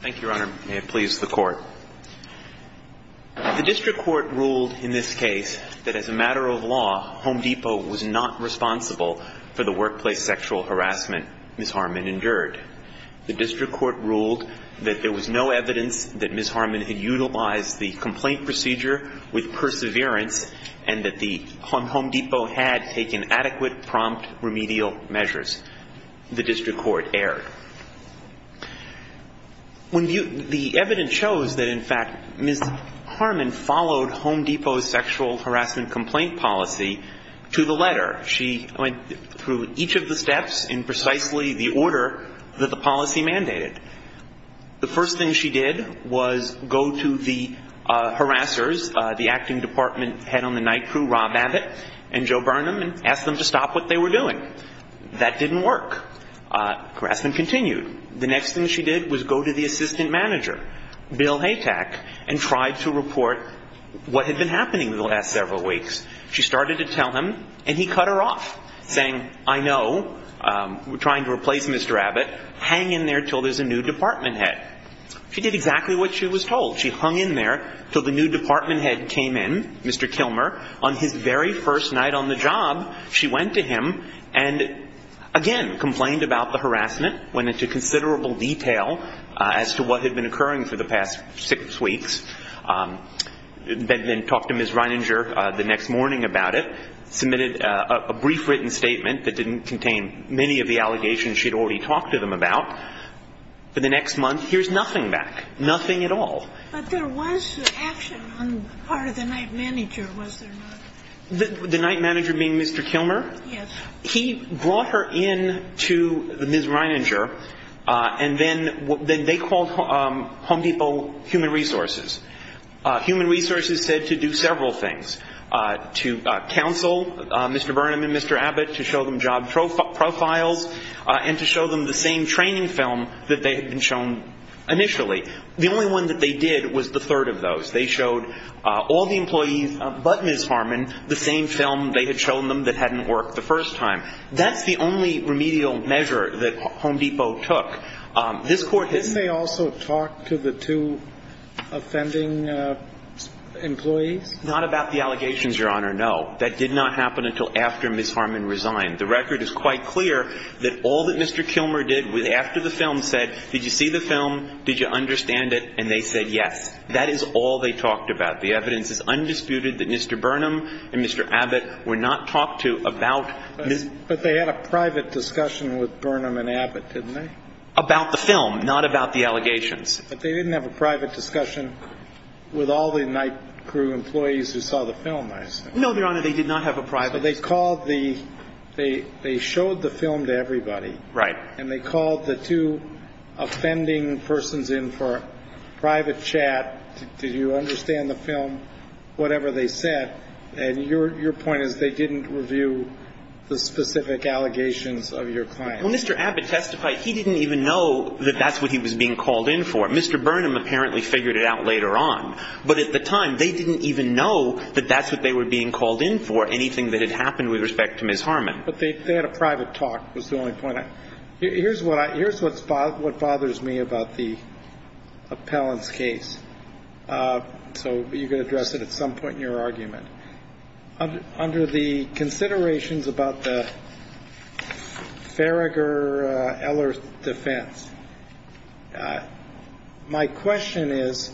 Thank you, Your Honor. May it please the Court. The District Court ruled in this case that as a matter of law, Home Depot was not responsible for the workplace sexual harassment Ms. Harmon endured. The District Court ruled that there was no evidence that Ms. Harmon had utilized the complaint procedure with perseverance and that the Home Depot had taken adequate prompt remedial measures. The District Court erred. The evidence shows that, in fact, Ms. Harmon followed Home Depot's sexual harassment complaint policy to the letter. She went through each of the steps in precisely the order that the policy mandated. The first thing she did was go to the harassers, the acting department head on the night crew, Rob Abbott and Joe Burnham, and asked them to stop what they were doing. That didn't work. Harassment continued. The next thing she did was go to the assistant manager, Bill Haytack, and tried to report what had been happening the last several weeks. She started to tell him, and he cut her off, saying, I know. We're trying to replace Mr. Abbott. Hang in there until there's a new department head. She did exactly what she was told. She hung in there until the new department head came in, Mr. Kilmer. On his very first night on the job, she went to him and, again, complained about the harassment, went into considerable detail as to what had been occurring for the past six weeks, then talked to Ms. Reininger the next morning about it, submitted a brief written statement that didn't contain many of the allegations she had already talked to them about. For the next month, here's nothing back, nothing at all. But there was action on the part of the night manager, was there not? The night manager being Mr. Kilmer? Yes. He brought her in to Ms. Reininger, and then they called Home Depot human resources. Human resources said to do several things, to counsel Mr. Burnham and Mr. Abbott, to show them job profiles, and to show them the same training film that they had been shown initially. The only one that they did was the third of those. They showed all the employees but Ms. Harman the same film they had shown them that hadn't worked the first time. That's the only remedial measure that Home Depot took. This Court has – Didn't they also talk to the two offending employees? Not about the allegations, Your Honor, no. That did not happen until after Ms. Harman resigned. The record is quite clear that all that Mr. Kilmer did after the film said, did you see the film, did you understand it, and they said yes. That is all they talked about. The evidence is undisputed that Mr. Burnham and Mr. Abbott were not talked to about Ms. – But they had a private discussion with Burnham and Abbott, didn't they? About the film, not about the allegations. But they didn't have a private discussion with all the night crew employees who saw the film, I assume. No, Your Honor, they did not have a private – So they called the – they showed the film to everybody. Right. And they called the two offending persons in for a private chat, did you understand the film, whatever they said. And your point is they didn't review the specific allegations of your client. Well, Mr. Abbott testified he didn't even know that that's what he was being called in for. Mr. Burnham apparently figured it out later on. But at the time, they didn't even know that that's what they were being called in for, anything that had happened with respect to Ms. Harman. But they had a private talk, was the only point I – here's what bothers me about the appellant's case. So you can address it at some point in your argument. Under the considerations about the Farragher-Eller defense, my question is,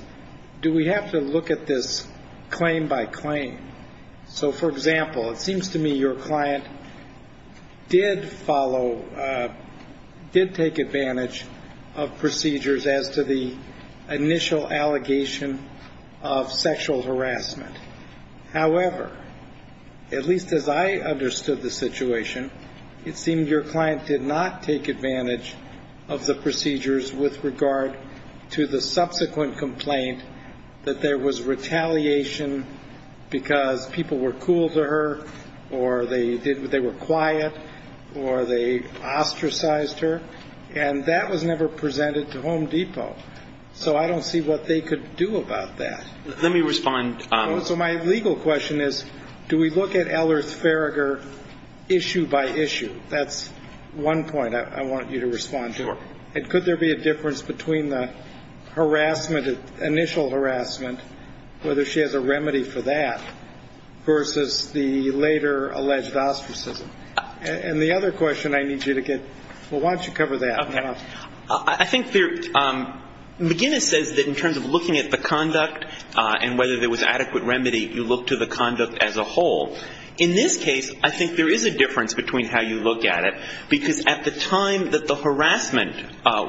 do we have to look at this claim by claim? So, for example, it seems to me your client did follow – did take advantage of procedures as to the initial allegation of sexual harassment. However, at least as I understood the situation, it seemed your client did not take advantage of the procedures with regard to the subsequent complaint, that there was retaliation because people were cool to her, or they did – they were quiet, or they ostracized her. And that was never presented to Home Depot. So I don't see what they could do about that. Let me respond – So my legal question is, do we look at Eller's Farragher issue by issue? That's one point I want you to respond to. Sure. And could there be a difference between the harassment – initial harassment, whether she has a remedy for that, versus the later alleged ostracism? And the other question I need you to get – well, why don't you cover that now? I think there – McGinnis says that in terms of looking at the conduct and whether there was adequate remedy, you look to the conduct as a whole. In this case, I think there is a difference between how you look at it, because at the time that the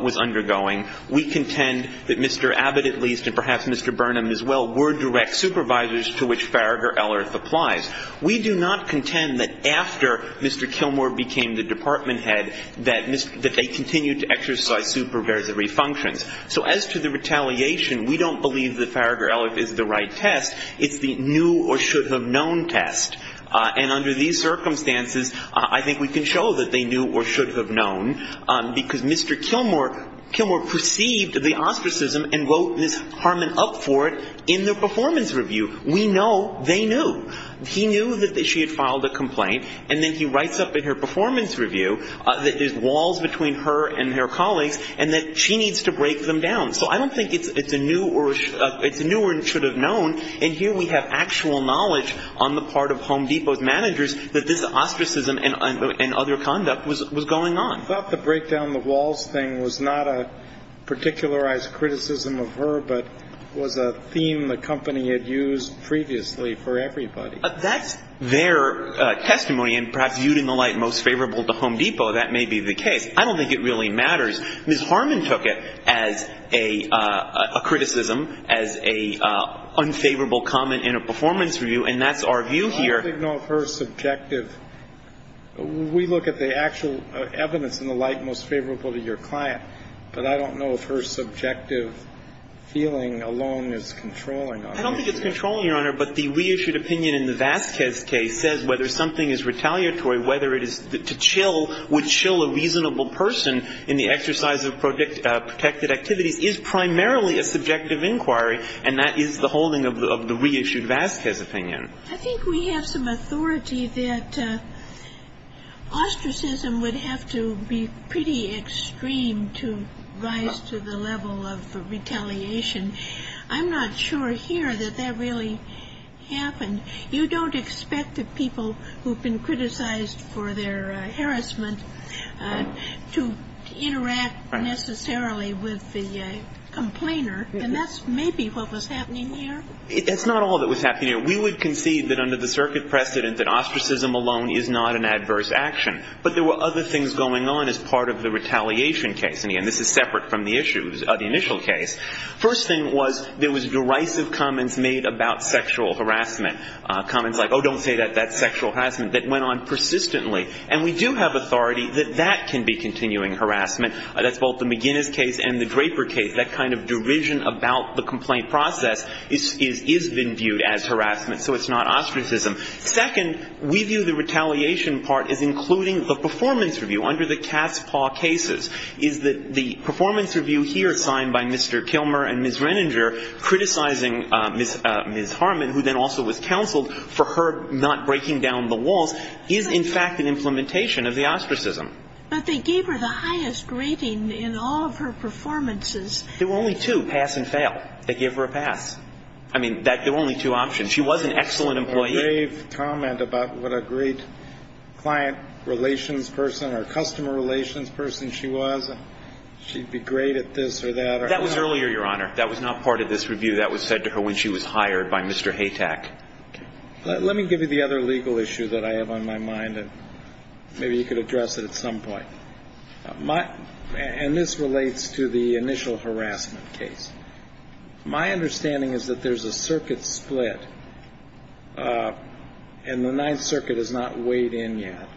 was undergoing, we contend that Mr. Abbott, at least, and perhaps Mr. Burnham as well, were direct supervisors to which Farragher-Ellerth applies. We do not contend that after Mr. Kilmore became the department head, that they continued to exercise supervisory functions. So as to the retaliation, we don't believe that Farragher-Ellerth is the right test. It's the knew or should have known test. And under these circumstances, I think we can show that they knew or should have known, because Mr. Kilmore – Kilmore perceived the ostracism and wrote Ms. Harmon up for it in their performance review. We know they knew. He knew that she had filed a complaint, and then he writes up in her performance review that there's walls between her and her colleagues and that she needs to break them down. So I don't think it's a knew or – it's a knew or should have known, and here we have actual knowledge on the part of Home Depot's managers that this is what's going on. I thought the break down the walls thing was not a particularized criticism of her, but was a theme the company had used previously for everybody. That's their testimony, and perhaps viewed in the light most favorable to Home Depot, that may be the case. I don't think it really matters. Ms. Harmon took it as a criticism, as an unfavorable comment in a performance review, and that's our view here. I don't know if her subjective – we look at the actual evidence in the light most favorable to your client, but I don't know if her subjective feeling alone is controlling. I don't think it's controlling, Your Honor, but the reissued opinion in the Vasquez case says whether something is retaliatory, whether it is to chill would chill a reasonable person in the exercise of protected activities is primarily a subjective inquiry, and that is the holding of the reissued Vasquez opinion. I think we have some authority that ostracism would have to be pretty extreme to rise to the level of retaliation. I'm not sure here that that really happened. You don't expect the people who've been criticized for their harassment to interact necessarily with the complainer, and that's maybe what was happening here. That's not all that was happening here. We would concede that under the circuit precedent that ostracism alone is not an adverse action, but there were other things going on as part of the retaliation case, and again, this is separate from the issues of the initial case. First thing was there was derisive comments made about sexual harassment, comments like, oh, don't say that, that's sexual harassment, that went on persistently, and we do have authority that that can be continuing harassment. That's both the McGinnis case and the Draper case. That kind of derision about the complaint process is viewed as harassment, so it's not ostracism. Second, we view the retaliation part as including the performance review under the Cass Paw cases, is that the performance review here signed by Mr. Kilmer and Ms. Renninger criticizing Ms. Harmon, who then also was counseled for her not breaking down the walls, is in fact an implementation of the ostracism. But they gave her the highest rating in all of her performances. There were only two, pass and fail. They gave her a pass. I mean, there were only two options. She was an excellent employee. A rave comment about what a great client relations person or customer relations person she was. She'd be great at this or that. That was earlier, Your Honor. That was not part of this review. That was said to her when she was hired by Mr. Haytack. Let me give you the other legal issue that I have on my mind, and maybe you could case. My understanding is that there's a circuit split, and the Ninth Circuit has not weighed in yet.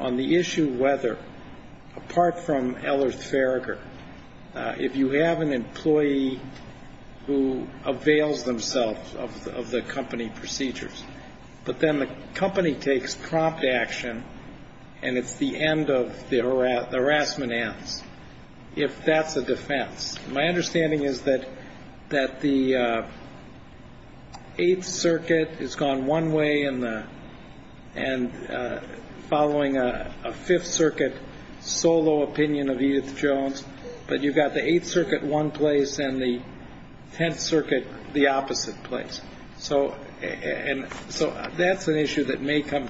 On the issue whether, apart from Ellerth Farragher, if you have an employee who avails themselves of the company procedures, but then the company takes prompt action, and it's the end of the harassment ads, if that's a defense. My understanding is that the Eighth Circuit has gone one way, and following a Fifth Circuit solo opinion of Edith Jones, but you've got the Eighth Circuit one place and the Tenth Circuit the opposite place. So that's an issue that may come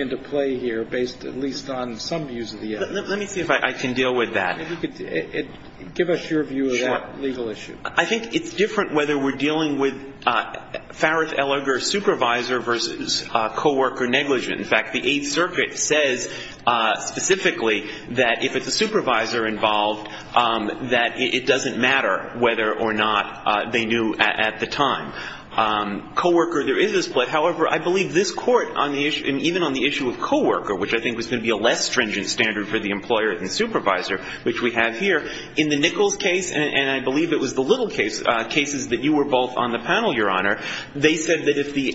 into play here, based at least on some views of the evidence. Let me see if I can deal with that. Maybe you could give us your view of that legal issue. I think it's different whether we're dealing with Farragher-Ellerth supervisor versus co-worker negligence. In fact, the Eighth Circuit says specifically that if it's a supervisor involved, that it doesn't matter whether or not they knew at the time. Co-worker, there is a split. However, I believe this Court on the issue, and even on the issue of co-worker, which I think was going to be a less stringent standard for the employer than supervisor, which we have here, in the Nichols case, and I believe it was the Little case, cases that you were both on the panel, Your Honor, they said that if the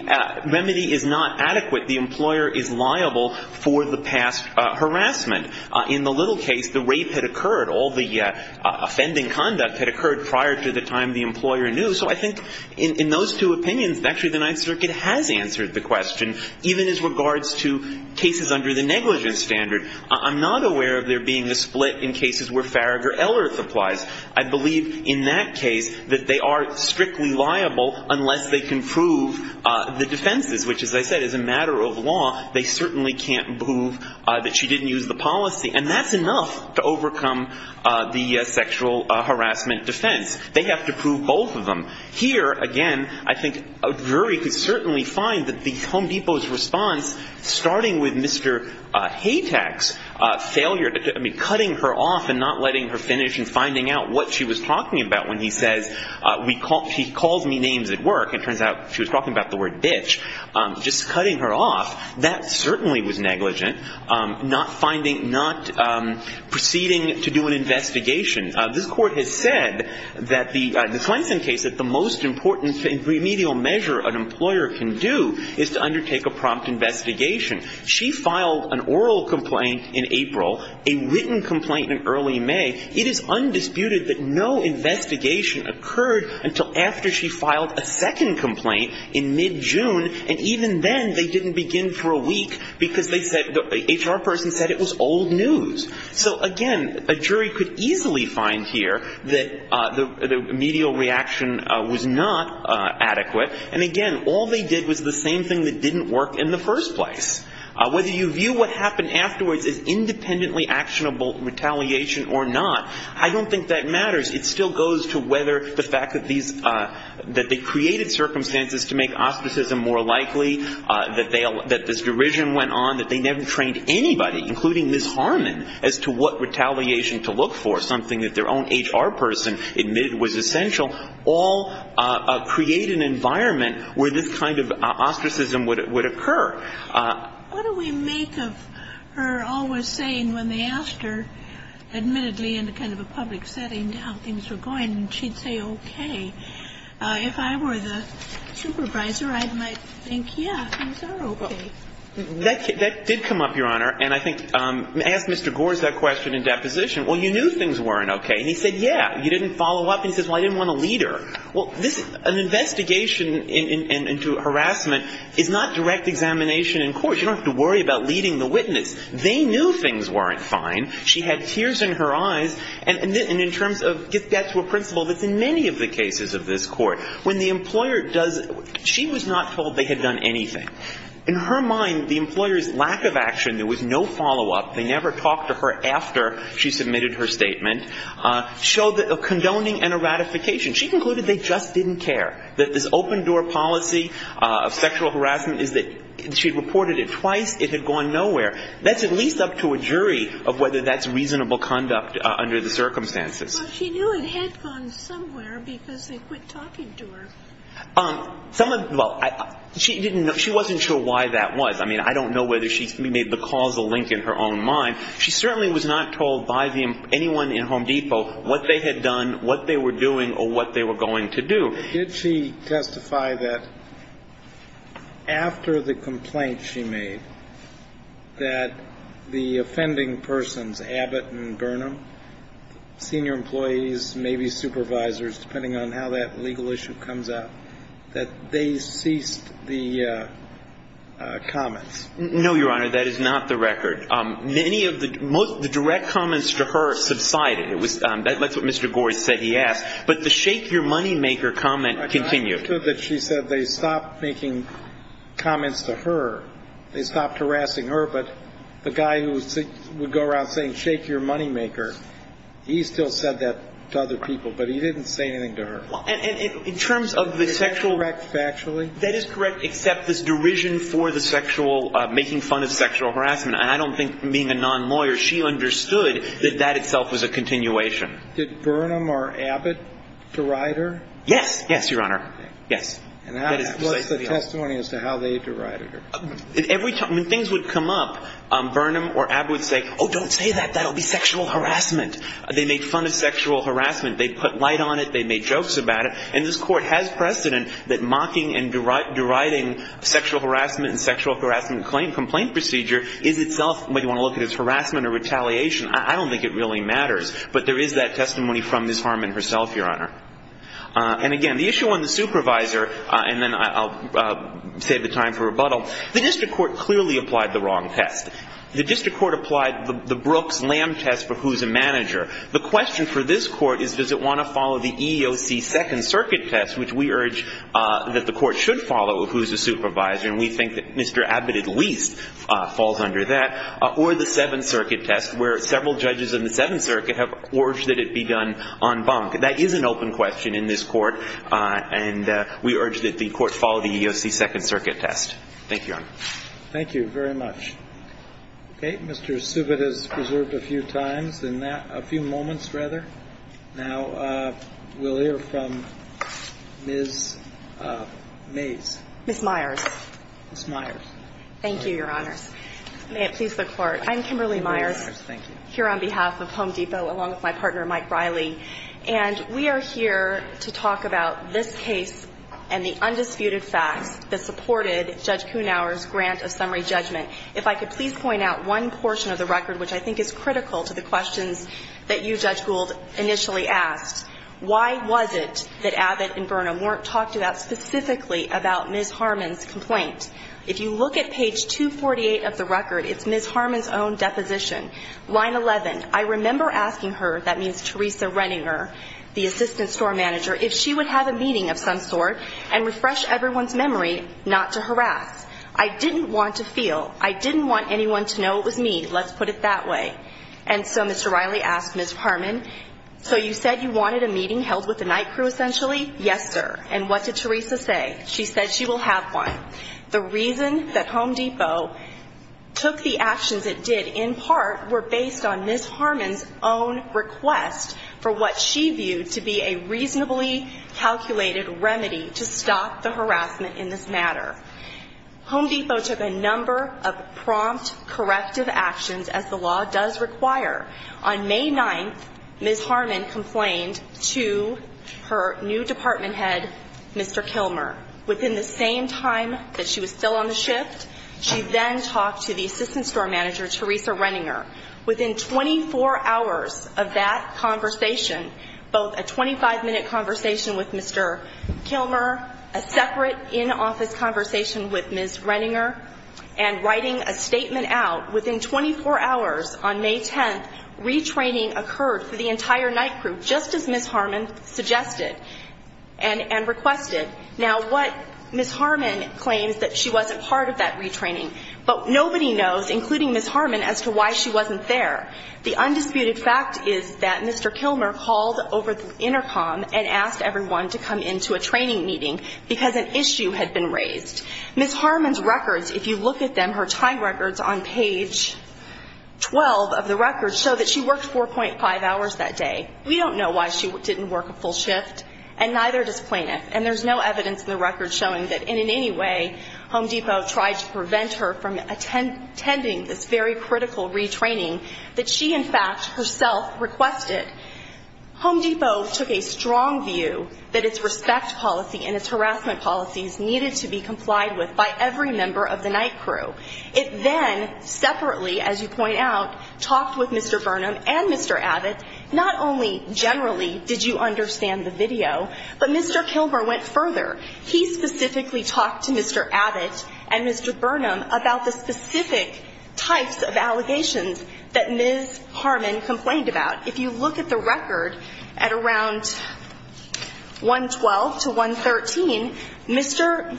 remedy is not adequate, the employer is liable for the past harassment. In the Little case, the rape had occurred. All the offending conduct had occurred prior to the time the employer knew. So I think in those two opinions, actually the Ninth Circuit has answered the question, even as regards to cases under the negligence standard. I'm not aware of there being a split in cases where Farragher-Ellerth applies. I believe in that case that they are strictly liable unless they can prove the defenses, which, as I said, is a matter of law. They certainly can't prove that she didn't use the policy. And that's enough to overcome the sexual harassment defense. They have to prove both of them. Here, again, I think a jury could certainly find that the Home Depot's response, starting with Mr. Haytack's failure, I mean, cutting her off and not letting her finish and finding out what she was talking about when he says, she calls me names at work. It turns out she was talking about the word bitch. Just cutting her off, that certainly was negligent, not finding, not proceeding to do an investigation. This court has said that the Clemson case, that the most important remedial measure an employer can do is to undertake a prompt investigation. She filed an oral complaint in April, a written complaint in early May. It is undisputed that no investigation occurred until after she filed a second complaint in mid-June. And even then, they didn't begin for a week, because the HR person said it was old news. So again, a jury could easily find here that the remedial reaction was not adequate. And again, all they did was the same thing that didn't work in the first place. Whether you view what happened afterwards as independently actionable retaliation or not, I don't think that matters. It still goes to whether the fact that they created circumstances to make auspicism more likely, that this derision went on, that they never trained anybody, including Ms. Harmon, as to what retaliation to look for, something that their own HR person admitted was essential, all create an environment where this kind of ostracism would occur. What do we make of her always saying, when they asked her, admittedly in kind of a public setting, how things were going, she'd say, okay. If I were the supervisor, I might think, yeah, things are okay. That did come up, Your Honor. And I think, I asked Mr. Gores that question in deposition. Well, you knew things weren't okay. And he said, yeah. You didn't follow up. And he says, well, I didn't want to lead her. Well, an investigation into harassment is not direct examination in court. You don't have to worry about leading the witness. They knew things weren't fine. She had tears in her eyes. And in terms of, get back to a principle that's in many of the cases of this court. When the employer does, she was not told they had done anything. In her mind, the employer's lack of action, there was no follow-up. They never talked to her after she submitted her statement. Showed a condoning and a ratification. She concluded they just didn't care. That this open door policy of sexual harassment is that she reported it twice. It had gone nowhere. That's at least up to a jury of whether that's reasonable conduct under the circumstances. Well, she knew it had gone somewhere because they quit talking to her. Someone, well, she didn't know, she wasn't sure why that was. I mean, I don't know whether she made the causal link in her own mind. She certainly was not told by anyone in Home Depot what they had done, what they were doing, or what they were going to do. Did she testify that after the complaint she made, that the offending persons, Abbott and Burnham, senior employees, maybe supervisors, depending on how that legal issue comes out, that they ceased the comments? No, Your Honor, that is not the record. Many of the, most of the direct comments to her subsided. It was, that's what Mr. Gores said he asked. But the shake your money maker comment continued. I'm not sure that she said they stopped making comments to her. They stopped harassing her, but the guy who would go around saying shake your money maker, he still said that to other people, but he didn't say anything to her. And in terms of the sexual- Is that correct factually? That is correct, except this derision for the sexual, making fun of sexual harassment. And I don't think, being a non-lawyer, she understood that that itself was a continuation. Did Burnham or Abbott deride her? Yes, yes, Your Honor, yes. And what's the testimony as to how they derided her? Every time, when things would come up, Burnham or Abbott would say, oh, don't say that, that'll be sexual harassment. They made fun of sexual harassment. They put light on it. They made jokes about it. And this Court has precedent that mocking and deriding sexual harassment and sexual harassment complaint procedure is itself what you want to look at as harassment or retaliation. I don't think it really matters, but there is that testimony from Ms. Harmon herself, Your Honor. And again, the issue on the supervisor, and then I'll save the time for rebuttal. The district court clearly applied the wrong test. The district court applied the Brooks-Lamb test for who's a manager. The question for this Court is, does it want to follow the EEOC Second Circuit test, which we urge that the Court should follow, who's a supervisor, and we think that Mr. Abbott at least falls under that, or the Seventh Circuit test, where several judges in the Seventh Circuit have urged that it be done en banc. That is an open question in this Court, and we urge that the Court follow the EEOC Second Circuit test. Thank you, Your Honor. Thank you very much. Okay, Mr. Subit has reserved a few times in that – a few moments, rather. Now, we'll hear from Ms. Mays. Ms. Myers. Ms. Myers. Thank you, Your Honors. May it please the Court, I'm Kimberly Myers, here on behalf of Home Depot, along with my partner, Mike Riley. And we are here to talk about this case and the undisputed facts that supported Judge Kuhnauer's grant of summary judgment. If I could please point out one portion of the record, which I think is critical to the questions that you, Judge Gould, initially asked. Why was it that Abbott and Burnham weren't talked about specifically about Ms. Harmon's complaint? If you look at page 248 of the record, it's Ms. Harmon's own deposition. Line 11, I remember asking her – that means Teresa Renninger, the assistant store manager – if she would have a meeting of some sort and refresh everyone's memory not to harass. I didn't want to feel. I didn't want anyone to know it was me, let's put it that way. And so Mr. Riley asked Ms. Harmon, so you said you wanted a meeting held with the night crew, essentially? Yes, sir. And what did Teresa say? She said she will have one. The reason that Home Depot took the actions it did, in part, were based on Ms. Harmon's own request for what she viewed to be a reasonably calculated remedy to stop the harassment in this matter. Home Depot took a number of prompt, corrective actions, as the law does require. On May 9th, Ms. Harmon complained to her new department head, Mr. Kilmer. Within the same time that she was still on the shift, she then talked to the assistant store manager, Teresa Renninger. Within 24 hours of that conversation, both a 25-minute conversation with Mr. Kilmer, a separate in-office conversation with Ms. Renninger, and writing a statement out, within 24 hours on May 10th, retraining occurred for the entire night crew, just as Ms. Harmon suggested and requested. Now, what Ms. Harmon claims that she wasn't part of that retraining, but nobody knows, including Ms. Harmon, as to why she wasn't there. The undisputed fact is that Mr. Kilmer called over the intercom and asked everyone to come into a training meeting because an issue had been raised. Ms. Harmon's records, if you look at them, her time records on page 12 of the records show that she worked 4.5 hours that day. We don't know why she didn't work a full shift, and neither does plaintiff. And there's no evidence in the records showing that in any way Home Depot tried to prevent her from attending this very critical retraining that she, in fact, herself requested. Home Depot took a strong view that its respect policy and its harassment policies needed to be complied with by every member of the night crew. It then, separately, as you point out, talked with Mr. Burnham and Mr. Abbott. Not only generally did you understand the video, but Mr. Kilmer went further. He specifically talked to Mr. Abbott and Mr. Burnham about the specific types of allegations that Ms. Harmon complained about. If you look at the record at around 112 to 113, Mr.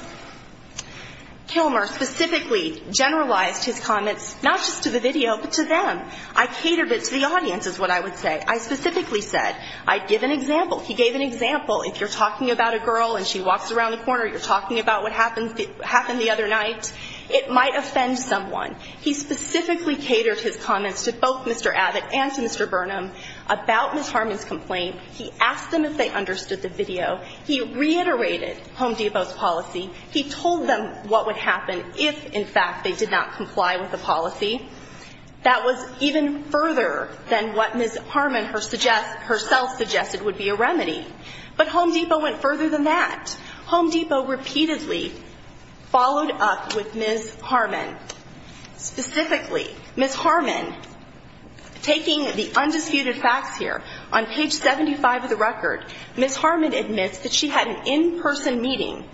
Kilmer specifically generalized his comments, not just to the video, but to them. I catered it to the audience, is what I would say. I specifically said, I'd give an example. He gave an example. If you're talking about a girl and she walks around the corner, you're talking about what happened the other night, it might offend someone. He specifically catered his comments to both Mr. Abbott and to Mr. Burnham about Ms. Harmon's complaint. He asked them if they understood the video. He reiterated Home Depot's policy. He told them what would happen if, in fact, they did not comply with the policy. That was even further than what Ms. Harmon herself suggested would be a remedy. But Home Depot went further than that. Home Depot repeatedly followed up with Ms. Harmon. Specifically, Ms. Harmon, taking the undisputed facts here, on page 75 of the record, Ms. Harmon admits that she had an in-person meeting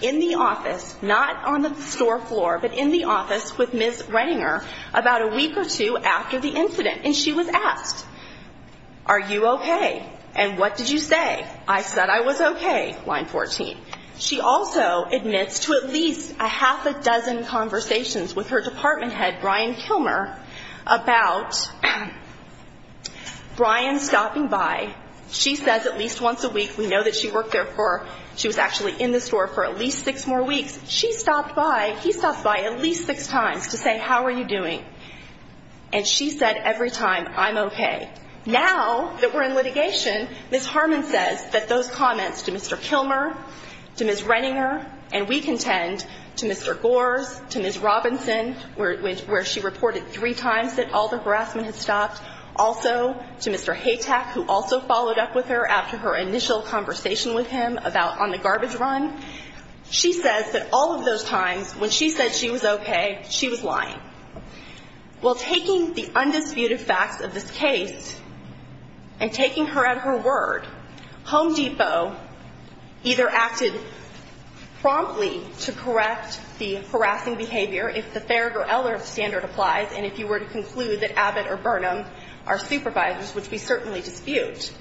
in the office, not on the store floor, but in the office with Ms. Renninger about a week or two after the incident. And she was asked, are you okay? And what did you say? I said I was okay, line 14. She also admits to at least a half a dozen conversations with her department head, Brian Kilmer, about Brian stopping by. She says at least once a week, we know that she worked there for, she was actually in the store for at least six more weeks. She stopped by, he stopped by at least six times to say, how are you doing? And she said every time, I'm okay. Now that we're in litigation, Ms. Harmon says that those comments to Mr. Kilmer, to Ms. Renninger, and we contend to Mr. Gores, to Ms. Robinson, also to Mr. Haytack, who also followed up with her after her initial conversation with him about on the garbage run. She says that all of those times, when she said she was okay, she was lying. While taking the undisputed facts of this case, and taking her at her word, Home Depot either acted promptly to correct the harassing behavior, if the Farragut-Eller standard applies, and if you were to conclude that Abbott or Burnham are supervisors, which we certainly dispute.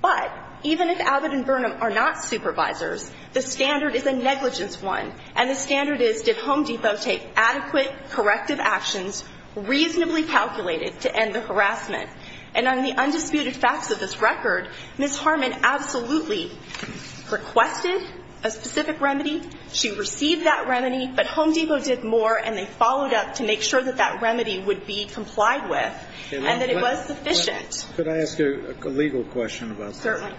But even if Abbott and Burnham are not supervisors, the standard is a negligence one. And the standard is, did Home Depot take adequate corrective actions, reasonably calculated, to end the harassment? And on the undisputed facts of this record, Ms. Harmon absolutely requested a specific remedy. She received that remedy, but Home Depot did more, and they followed up to make sure that that remedy would be complied with, and that it was sufficient. Could I ask you a legal question about that? Certainly.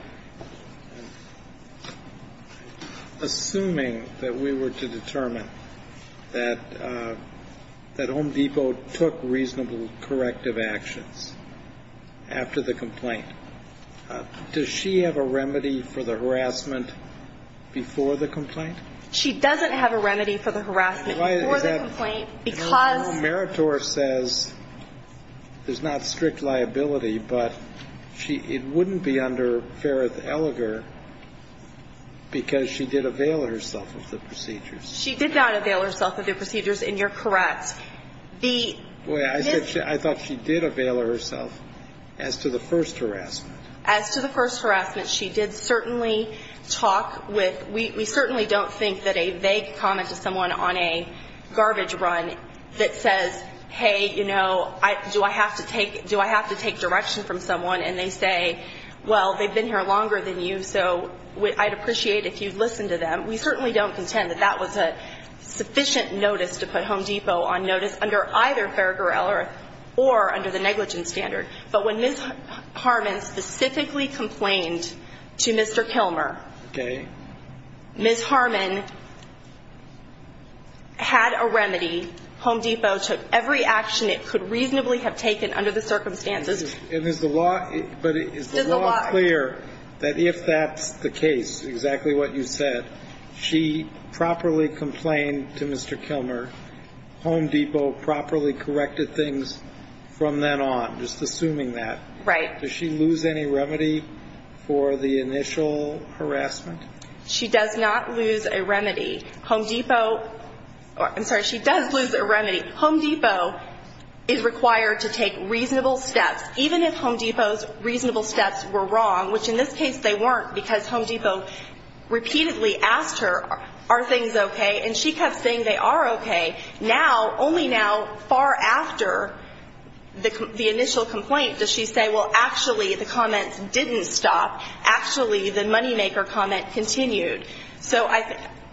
Assuming that we were to determine that Home Depot took reasonable corrective actions after the complaint, does she have a remedy for the harassment before the complaint? She doesn't have a remedy for the harassment before the complaint, because- Meritor says there's not strict liability, but it wouldn't be under Ferreth-Elliger, because she did avail herself of the procedures. She did not avail herself of the procedures, and you're correct. The- Wait, I thought she did avail herself as to the first harassment. As to the first harassment, she did certainly talk with, we certainly don't think that a vague comment to someone on a garbage run that says, hey, you know, do I have to take direction from someone? And they say, well, they've been here longer than you, so I'd appreciate if you'd listen to them. We certainly don't contend that that was a sufficient notice to put Home Depot on notice under either Ferreth-Elliger or under the negligence standard. But when Ms. Harman specifically complained to Mr. Kilmer- Okay. Ms. Harman had a remedy. Home Depot took every action it could reasonably have taken under the circumstances. And is the law clear that if that's the case, exactly what you said, she properly complained to Mr. Kilmer, Home Depot properly corrected things from then on? I'm just assuming that. Right. Does she lose any remedy for the initial harassment? She does not lose a remedy. Home Depot, I'm sorry, she does lose a remedy. Home Depot is required to take reasonable steps, even if Home Depot's reasonable steps were wrong, which in this case they weren't because Home Depot repeatedly asked her, are things okay? And she kept saying they are okay. Now, only now, far after the initial complaint, does she say, well, actually, the comments didn't stop. Actually, the moneymaker comment continued. So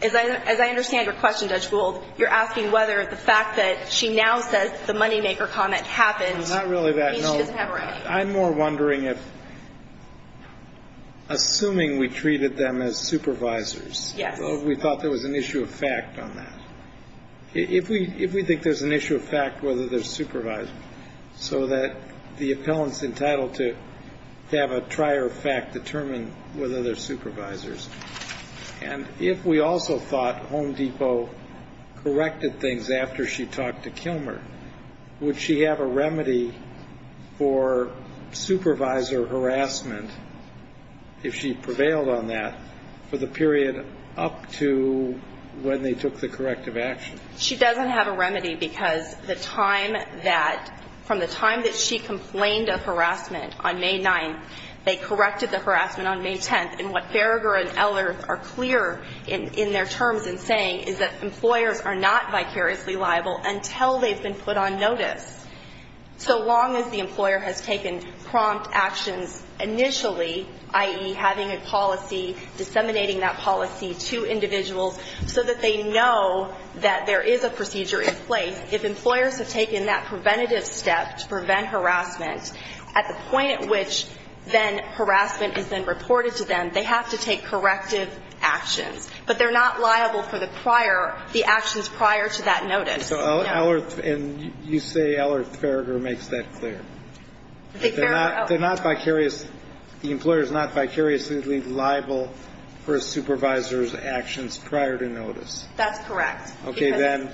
as I understand your question, Judge Gould, you're asking whether the fact that she now says the moneymaker comment happened means she doesn't have a remedy. I'm more wondering if, assuming we treated them as supervisors- Yes. We thought there was an issue of fact on that. If we think there's an issue of fact, whether they're supervisors, so that the appellant's entitled to have a trier of fact determine whether they're supervisors. And if we also thought Home Depot corrected things after she talked to Kilmer, would she have a remedy for supervisor harassment, if she prevailed on that, for the period up to when they took the corrective action? She doesn't have a remedy because the time that, from the time that she complained of harassment on May 9th, they corrected the harassment on May 10th. And what Farragher and Ellert are clear in their terms in saying is that employers are not vicariously liable until they've been put on notice. So long as the employer has taken prompt actions initially, i.e., having a policy, disseminating that policy to individuals so that they know that there is a procedure in place. If employers have taken that preventative step to prevent harassment, at the point at which then harassment is then reported to them, they have to take corrective actions. But they're not liable for the prior, the actions prior to that notice. So Ellert, and you say Ellert, Farragher makes that clear. They're not vicarious, the employer's not vicariously liable for a supervisor's actions prior to notice. That's correct. Okay, then.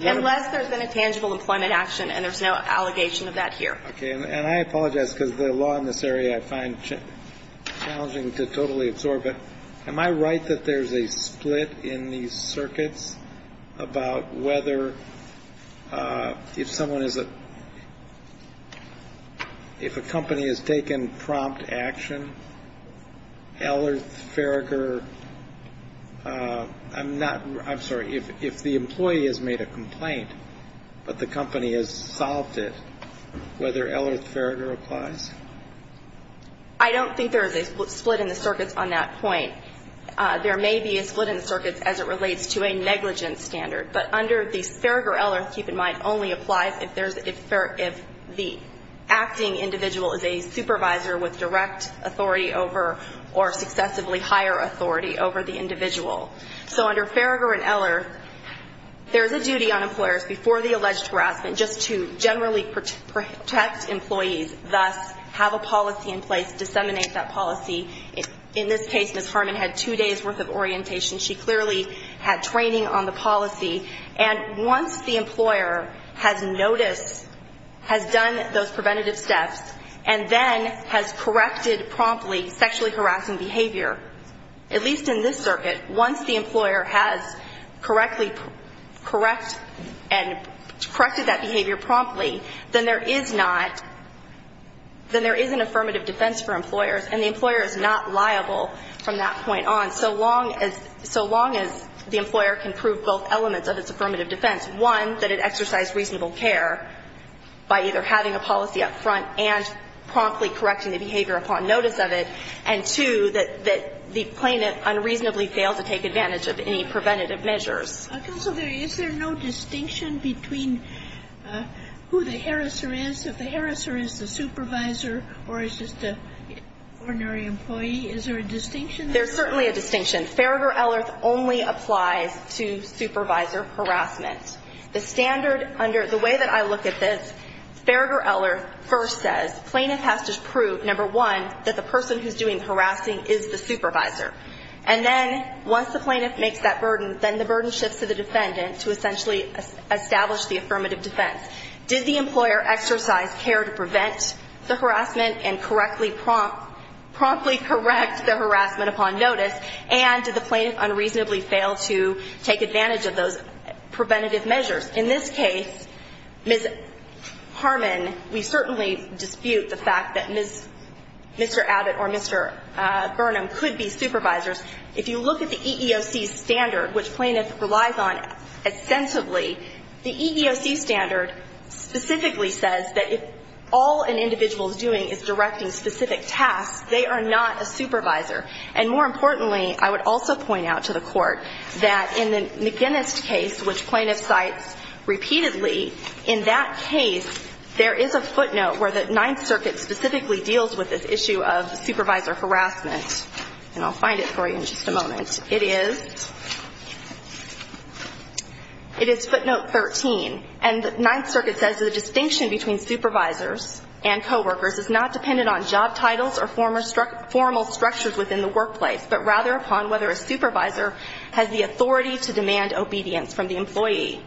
Unless there's been a tangible employment action and there's no allegation of that here. Okay, and I apologize because the law in this area I find challenging to totally absorb it. Am I right that there's a split in these circuits about whether if someone is a, if a company has taken prompt action, Ellert, Farragher, I'm not, I'm sorry, if the employee has made a complaint but the company has solved it, whether Ellert, Farragher applies? I don't think there is a split in the circuits on that point. There may be a split in the circuits as it relates to a negligence standard. But under the Farragher, Ellert, keep in mind, only applies if there's, if the acting individual is a supervisor with direct authority over or successively higher authority over the individual. So under Farragher and Ellert, there's a duty on employers before the alleged harassment just to generally protect employees, thus have a policy in place, disseminate that policy. In this case, Ms. Harmon had two days worth of orientation. She clearly had training on the policy. And once the employer has noticed, has done those preventative steps, and then has corrected promptly sexually harassing behavior, at least in this circuit, once the employer has correctly correct and corrected that behavior promptly, then there is not, then there is an affirmative defense for employers. And the employer is not liable from that point on, so long as the employer can prove both elements of its affirmative defense. One, that it exercised reasonable care by either having a policy up front and promptly correcting the behavior upon notice of it, and two, that the plaintiff unreasonably failed to take advantage of any preventative measures. Counsel, is there no distinction between who the harasser is, if the harasser is the supervisor or is just an ordinary employee? Is there a distinction? There's certainly a distinction. Farragher-Ellert only applies to supervisor harassment. The standard under, the way that I look at this, Farragher-Ellert first says, plaintiff has to prove, number one, that the person who's doing the harassing is the supervisor. And then, once the plaintiff makes that burden, then the burden shifts to the defendant to essentially establish the affirmative defense. Did the employer exercise care to prevent the harassment and correctly prompt, promptly correct the harassment upon notice? And did the plaintiff unreasonably fail to take advantage of those preventative measures? In this case, Ms. Harmon, we certainly dispute the fact that Ms., Mr. Abbott or Mr. Burnham could be supervisors. If you look at the EEOC standard, which plaintiff relies on extensively, the EEOC standard specifically says that if all an individual is doing is directing specific tasks, they are not a supervisor. And more importantly, I would also point out to the court that in the McGinnis case, which plaintiff cites repeatedly, in that case, there is a footnote where the Ninth Circuit specifically deals with this issue of supervisor harassment. And I'll find it for you in just a moment. It is, it is footnote 13. And the Ninth Circuit says the distinction between supervisors and coworkers is not dependent on job titles or formal structures within the workplace, but rather upon whether a supervisor has the authority to demand obedience from the employee.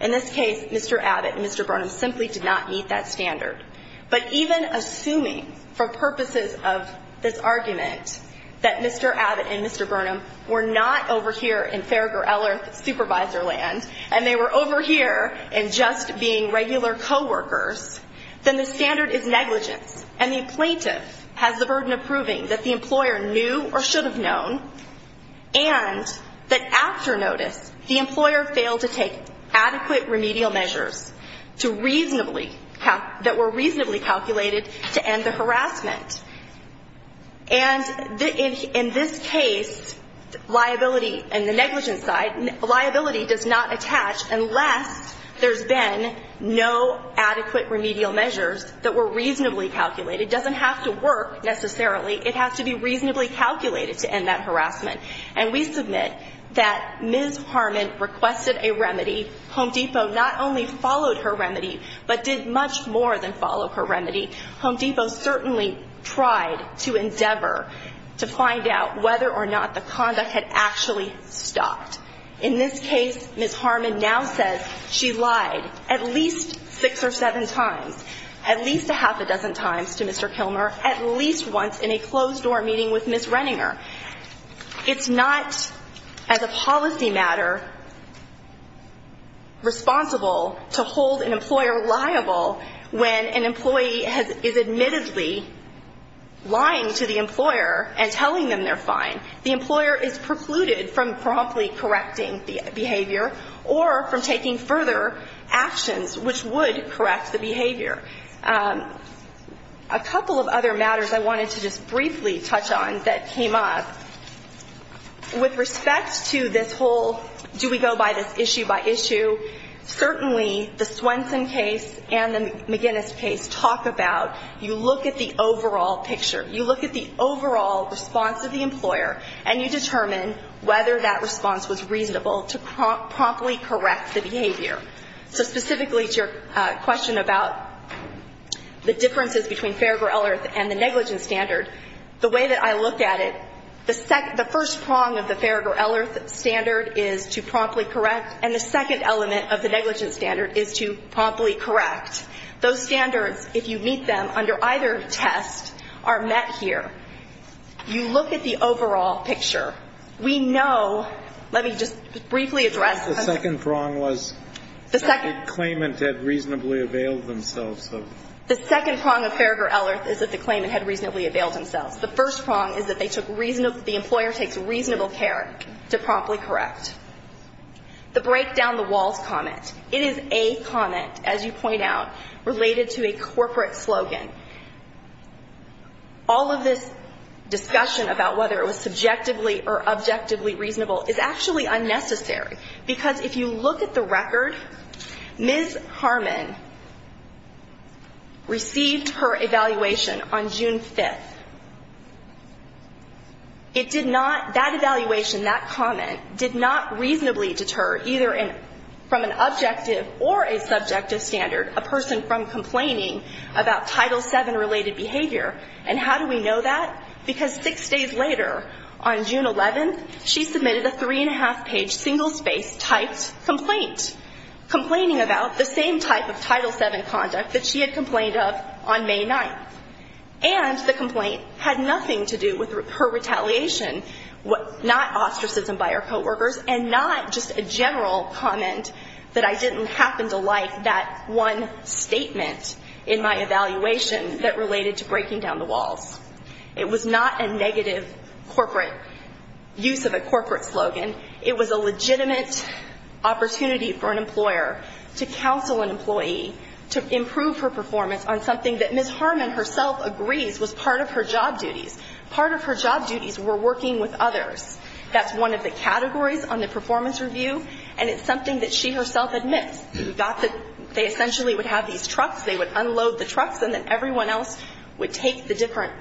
In this case, Mr. Abbott and Mr. Burnham simply did not meet that standard. But even assuming, for purposes of this argument, that Mr. Abbott and Mr. Burnham were not over here in Farragher-Ellerth supervisor land, and they were over here in just being regular coworkers, then the standard is negligence. And the plaintiff has the burden of proving that the employer knew or should have known. And that after notice, the employer failed to take adequate remedial measures to reasonably, that were reasonably calculated to end the harassment. And in this case, liability and the negligence side, liability does not attach unless there's been no adequate remedial measures that were reasonably calculated. It doesn't have to work necessarily. It has to be reasonably calculated to end that harassment. And we submit that Ms. Harmon requested a remedy. Home Depot not only followed her remedy, but did much more than follow her remedy. Home Depot certainly tried to endeavor to find out whether or not the conduct had actually stopped. In this case, Ms. Harmon now says she lied at least six or seven times, at least a half a dozen times to Mr. Kilmer, at least once in a closed door meeting with Ms. Renninger. It's not as a policy matter responsible to hold an employer liable when an employee is admittedly lying to the employer and telling them they're fine. The employer is precluded from promptly correcting the behavior, or from taking further actions which would correct the behavior. A couple of other matters I wanted to just briefly touch on that came up. With respect to this whole, do we go by this issue by issue, certainly the Swenson case and the McGinnis case talk about, you look at the overall picture. And you determine whether that response was reasonable to promptly correct the behavior. So specifically to your question about the differences between Farragher-Ellerth and the negligence standard, the way that I look at it, the first prong of the Farragher-Ellerth standard is to promptly correct, and the second element of the negligence standard is to promptly correct. Those standards, if you meet them under either test, are met here. You look at the overall picture. We know, let me just briefly address. The second prong was that the claimant had reasonably availed themselves of. The second prong of Farragher-Ellerth is that the claimant had reasonably availed themselves. The first prong is that the employer takes reasonable care to promptly correct. The break down the walls comment, it is a comment, as you point out, related to a corporate slogan. All of this discussion about whether it was subjectively or objectively reasonable is actually unnecessary. Because if you look at the record, Ms. Harmon received her evaluation on June 5th. It did not, that evaluation, that comment did not reasonably deter either from an objective or a subjective standard a person from complaining about Title VII related behavior. And how do we know that? Because six days later, on June 11th, she submitted a three and a half page single spaced typed complaint. Complaining about the same type of Title VII conduct that she had complained of on May 9th. And the complaint had nothing to do with her retaliation, not ostracism by her coworkers, and not just a general comment that I didn't happen to like that one statement in my evaluation that related to breaking down the walls. It was not a negative corporate use of a corporate slogan. It was a legitimate opportunity for an employer to counsel an employee to improve her performance on something that Ms. Harmon herself agrees was part of her job duties. Part of her job duties were working with others. That's one of the categories on the performance review, and it's something that she herself admits. They essentially would have these trucks. They would unload the trucks, and then everyone else would take the different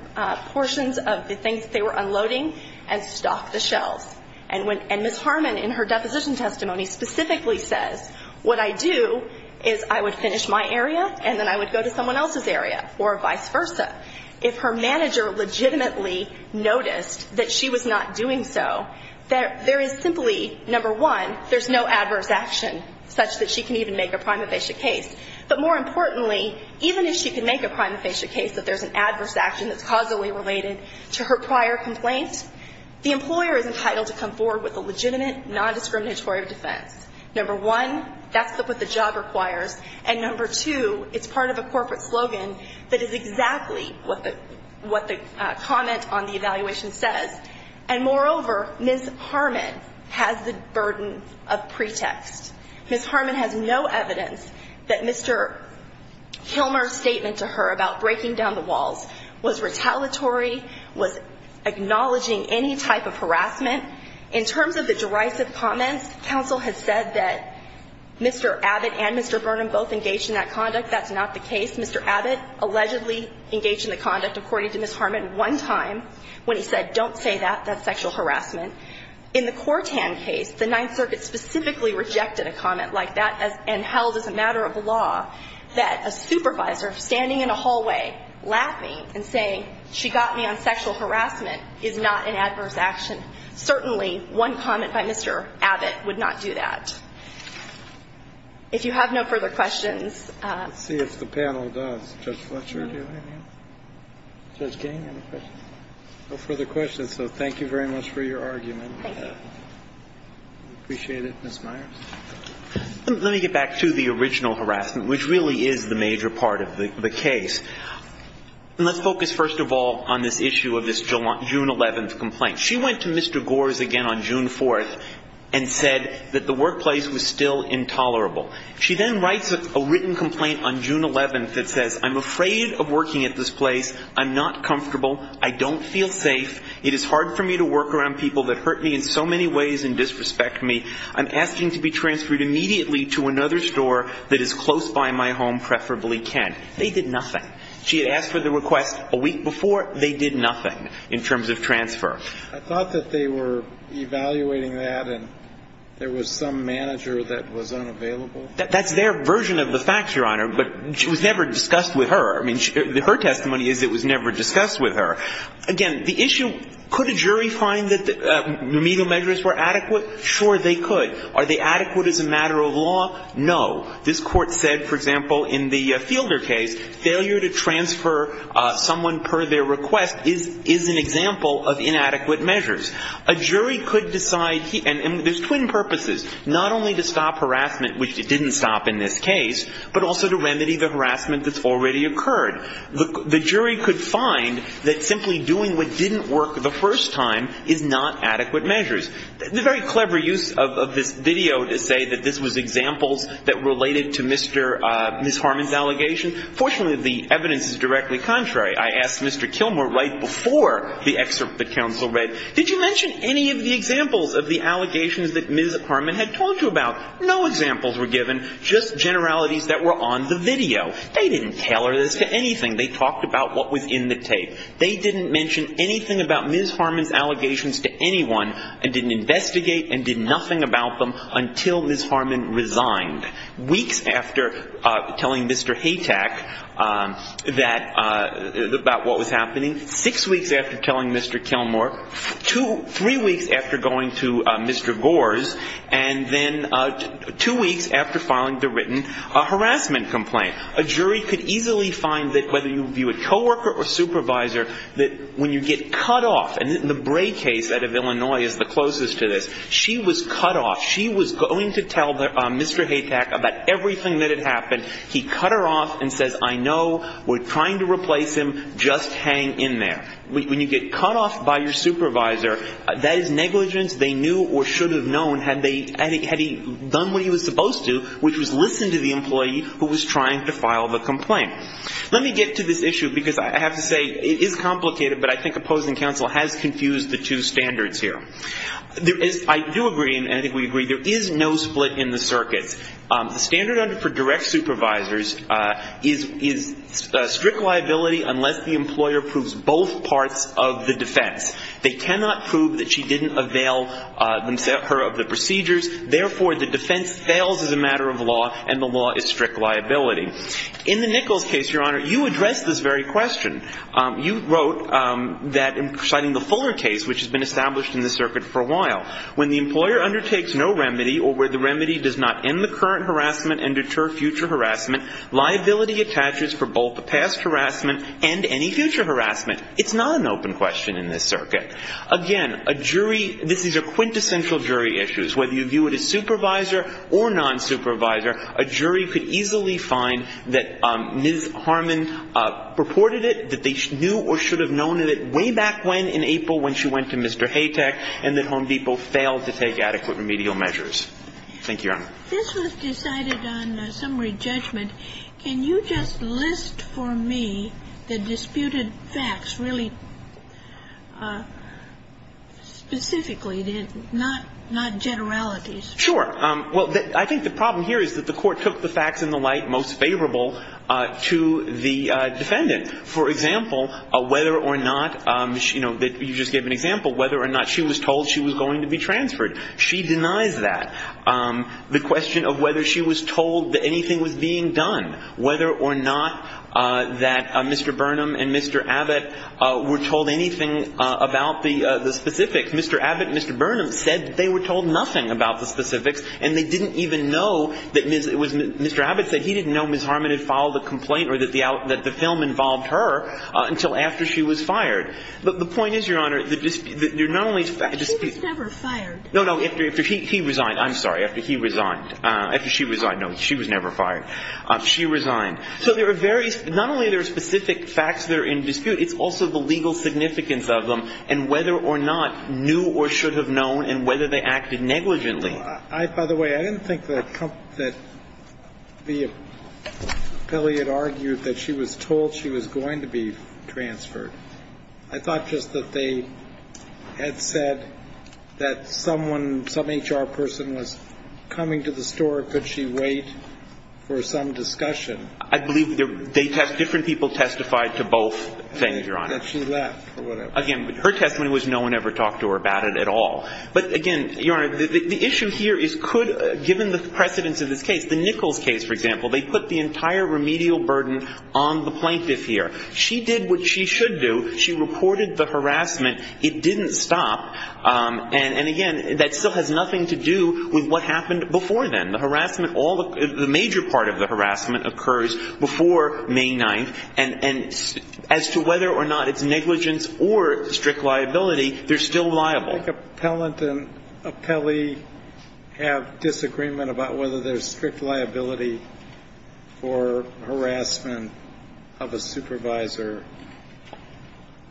portions of the things they were unloading and stock the shelves. And Ms. Harmon, in her deposition testimony, specifically says, what I do is I would finish my area, and then I would go to someone else's area, or vice versa. If her manager legitimately noticed that she was not doing so, there is simply, number one, there's no adverse action such that she can even make a prima facie case. But more importantly, even if she can make a prima facie case that there's an adverse action that's causally related to her prior complaint, the employer is entitled to come forward with a legitimate, non-discriminatory defense. Number one, that's what the job requires. And number two, it's part of a corporate slogan that is exactly what the comment on the evaluation says. And moreover, Ms. Harmon has the burden of pretext. Ms. Harmon has no evidence that Mr. Kilmer's statement to her about breaking down the walls was retaliatory, was acknowledging any type of harassment. In terms of the derisive comments, counsel has said that Mr. Abbott and Mr. Burnham both engaged in that conduct. That's not the case. Mr. Abbott allegedly engaged in the conduct, according to Ms. Harmon, one time when he said, don't say that, that's sexual harassment. In the Cortan case, the Ninth Circuit specifically rejected a comment like that and held as a matter of law that a supervisor standing in a hallway laughing and saying she got me on sexual harassment is not an adverse action. Certainly, one comment by Mr. Abbott would not do that. If you have no further questions. Let's see if the panel does. Judge Fletcher, do you have any? Judge King, any questions? No further questions. So thank you very much for your argument. Thank you. We appreciate it. Ms. Myers. Let me get back to the original harassment, which really is the major part of the case. Let's focus first of all on this issue of this June 11th complaint. She went to Mr. Gores again on June 4th and said that the workplace was still intolerable. She then writes a written complaint on June 11th that says, I'm afraid of working at this place. I'm not comfortable. I don't feel safe. It is hard for me to work around people that hurt me in so many ways and disrespect me. I'm asking to be transferred immediately to another store that is close by my home, preferably Kent. They did nothing. She had asked for the request a week before. They did nothing in terms of transfer. I thought that they were evaluating that and there was some manager that was unavailable. That's their version of the facts, Your Honor, but it was never discussed with her. I mean, her testimony is it was never discussed with her. Again, the issue, could a jury find that remedial measures were adequate? Sure, they could. Are they adequate as a matter of law? No. This Court said, for example, in the Fielder case, failure to transfer someone per their request is an example of inadequate measures. A jury could decide, and there's twin purposes, not only to stop harassment, which it didn't stop in this case, but also to remedy the harassment that's already occurred. The jury could find that simply doing what didn't work the first time is not adequate measures. The very clever use of this video to say that this was examples that related to Mr. Ms. Harmon's allegation, fortunately, the evidence is directly contrary. I asked Mr. Kilmore right before the excerpt that counsel read, did you mention any of the examples of the allegations that Ms. Harmon had told you about? No examples were given, just generalities that were on the video. They didn't tailor this to anything. They talked about what was in the tape. They didn't mention anything about Ms. Harmon's allegations to anyone and didn't investigate and did nothing about them until Ms. Harmon resigned. Weeks after telling Mr. Haytack about what was happening, six weeks after telling Mr. Kilmore, three weeks after going to Mr. Gores, and then two weeks after filing the written harassment complaint. A jury could easily find that whether you view a coworker or supervisor, that when you get cut off, and the Bray case out of Illinois is the closest to this, she was cut off. She was going to tell Mr. Haytack about everything that had happened. He cut her off and says, I know. We're trying to replace him. Just hang in there. When you get cut off by your supervisor, that is negligence. They knew or should have known had he done what he was supposed to, which was listen to the employee who was trying to file the complaint. Let me get to this issue because I have to say it is complicated, but I think opposing counsel has confused the two standards here. I do agree, and I think we agree, there is no split in the circuits. The standard under direct supervisors is strict liability unless the employer proves both parts of the defense. They cannot prove that she didn't avail her of the procedures. Therefore, the defense fails as a matter of law, and the law is strict liability. In the Nichols case, Your Honor, you addressed this very question. You wrote that in citing the Fuller case, which has been established in the circuit for a while, when the employer undertakes no remedy or where the remedy does not end the current harassment and deter future harassment, liability attaches for both the past harassment and any future harassment. It's not an open question in this circuit. Again, a jury – this is a quintessential jury issue. Whether you view it as supervisor or nonsupervisor, a jury could easily find that Ms. Harmon purported it, that they knew or should have known it way back when in April when she went to Mr. Haytek, and that Home Depot failed to take adequate remedial measures. Thank you, Your Honor. This was decided on summary judgment. Can you just list for me the disputed facts really specifically, not generalities? Sure. Well, I think the problem here is that the court took the facts in the light most favorable to the defendant. For example, whether or not – you just gave an example – whether or not she was told she was going to be transferred. She denies that. The question of whether she was told that anything was being done, whether or not that Mr. Burnham and Mr. Abbott were told anything about the specifics. Mr. Abbott and Mr. Burnham said they were told nothing about the specifics, and they didn't even know that Ms. – Mr. Abbott said he didn't know Ms. Harmon had filed a complaint or that the film involved her until after she was fired. The point is, Your Honor, the dispute – you're not only – She was never fired. No, no. After he resigned. I'm sorry. After he resigned. After she resigned. No, she was never fired. She resigned. So there are various – not only are there specific facts that are in dispute, it's also the legal significance of them and whether or not – knew or should have known – and whether they acted negligently. By the way, I didn't think that the – Pelley had argued that she was told she was going to be transferred. I thought just that they had said that someone – some HR person was coming to the store. Could she wait for some discussion? I believe they – different people testified to both things, Your Honor. That she left or whatever. Again, her testimony was no one ever talked to her about it at all. But again, Your Honor, the issue here is could – given the precedence of this case, the Nichols case, for example, they put the entire remedial burden on the plaintiff here. She did what she should do. She reported the harassment. It didn't stop. And again, that still has nothing to do with what happened before then. The harassment – all the – the major part of the harassment occurs before May 9th. And as to whether or not it's negligence or strict liability, they're still liable. Do you think Appellant and Pelley have disagreement about whether there's strict liability for harassment of a supervisor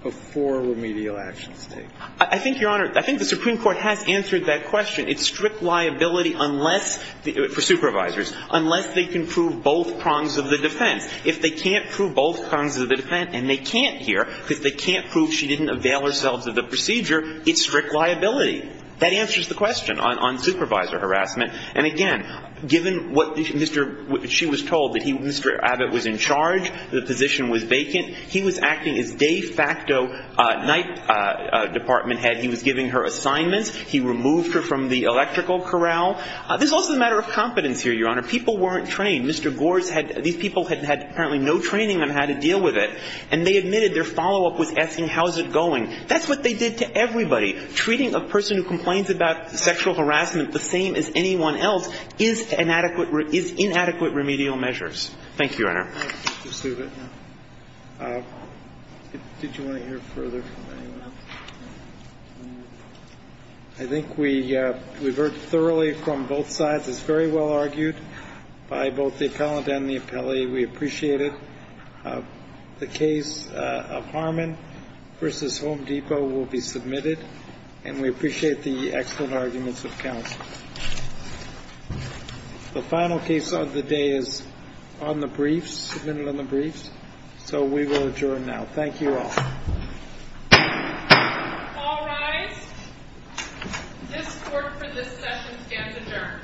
before remedial actions take place? I think, Your Honor, I think the Supreme Court has answered that question. It's strict liability unless – for supervisors. Unless they can prove both prongs of the defense. If they can't prove both prongs of the defense and they can't here because they can't prove she didn't avail herself of the procedure, it's strict liability. That answers the question on supervisor harassment. And again, given what Mr. – she was told that he – Mr. Abbott was in charge, the position was vacant. He was acting as de facto night department head. He was giving her assignments. He removed her from the electrical corral. This is also a matter of competence here, Your Honor. People weren't trained. Mr. Gores had – these people had apparently no training on how to deal with it. And they admitted their follow-up was asking how is it going. That's what they did to everybody. Treating a person who complains about sexual harassment the same as anyone else is inadequate remedial measures. Thank you, Your Honor. Thank you, Mr. Subit. Did you want to hear further from anyone else? I think we've heard thoroughly from both sides. It's very well argued by both the appellant and the appellee. We appreciate it. The case of Harmon v. Home Depot will be submitted. And we appreciate the excellent arguments of counsel. The final case of the day is on the briefs, submitted on the briefs. So we will adjourn now. Thank you all. All rise. This court for this session stands adjourned. Thank you.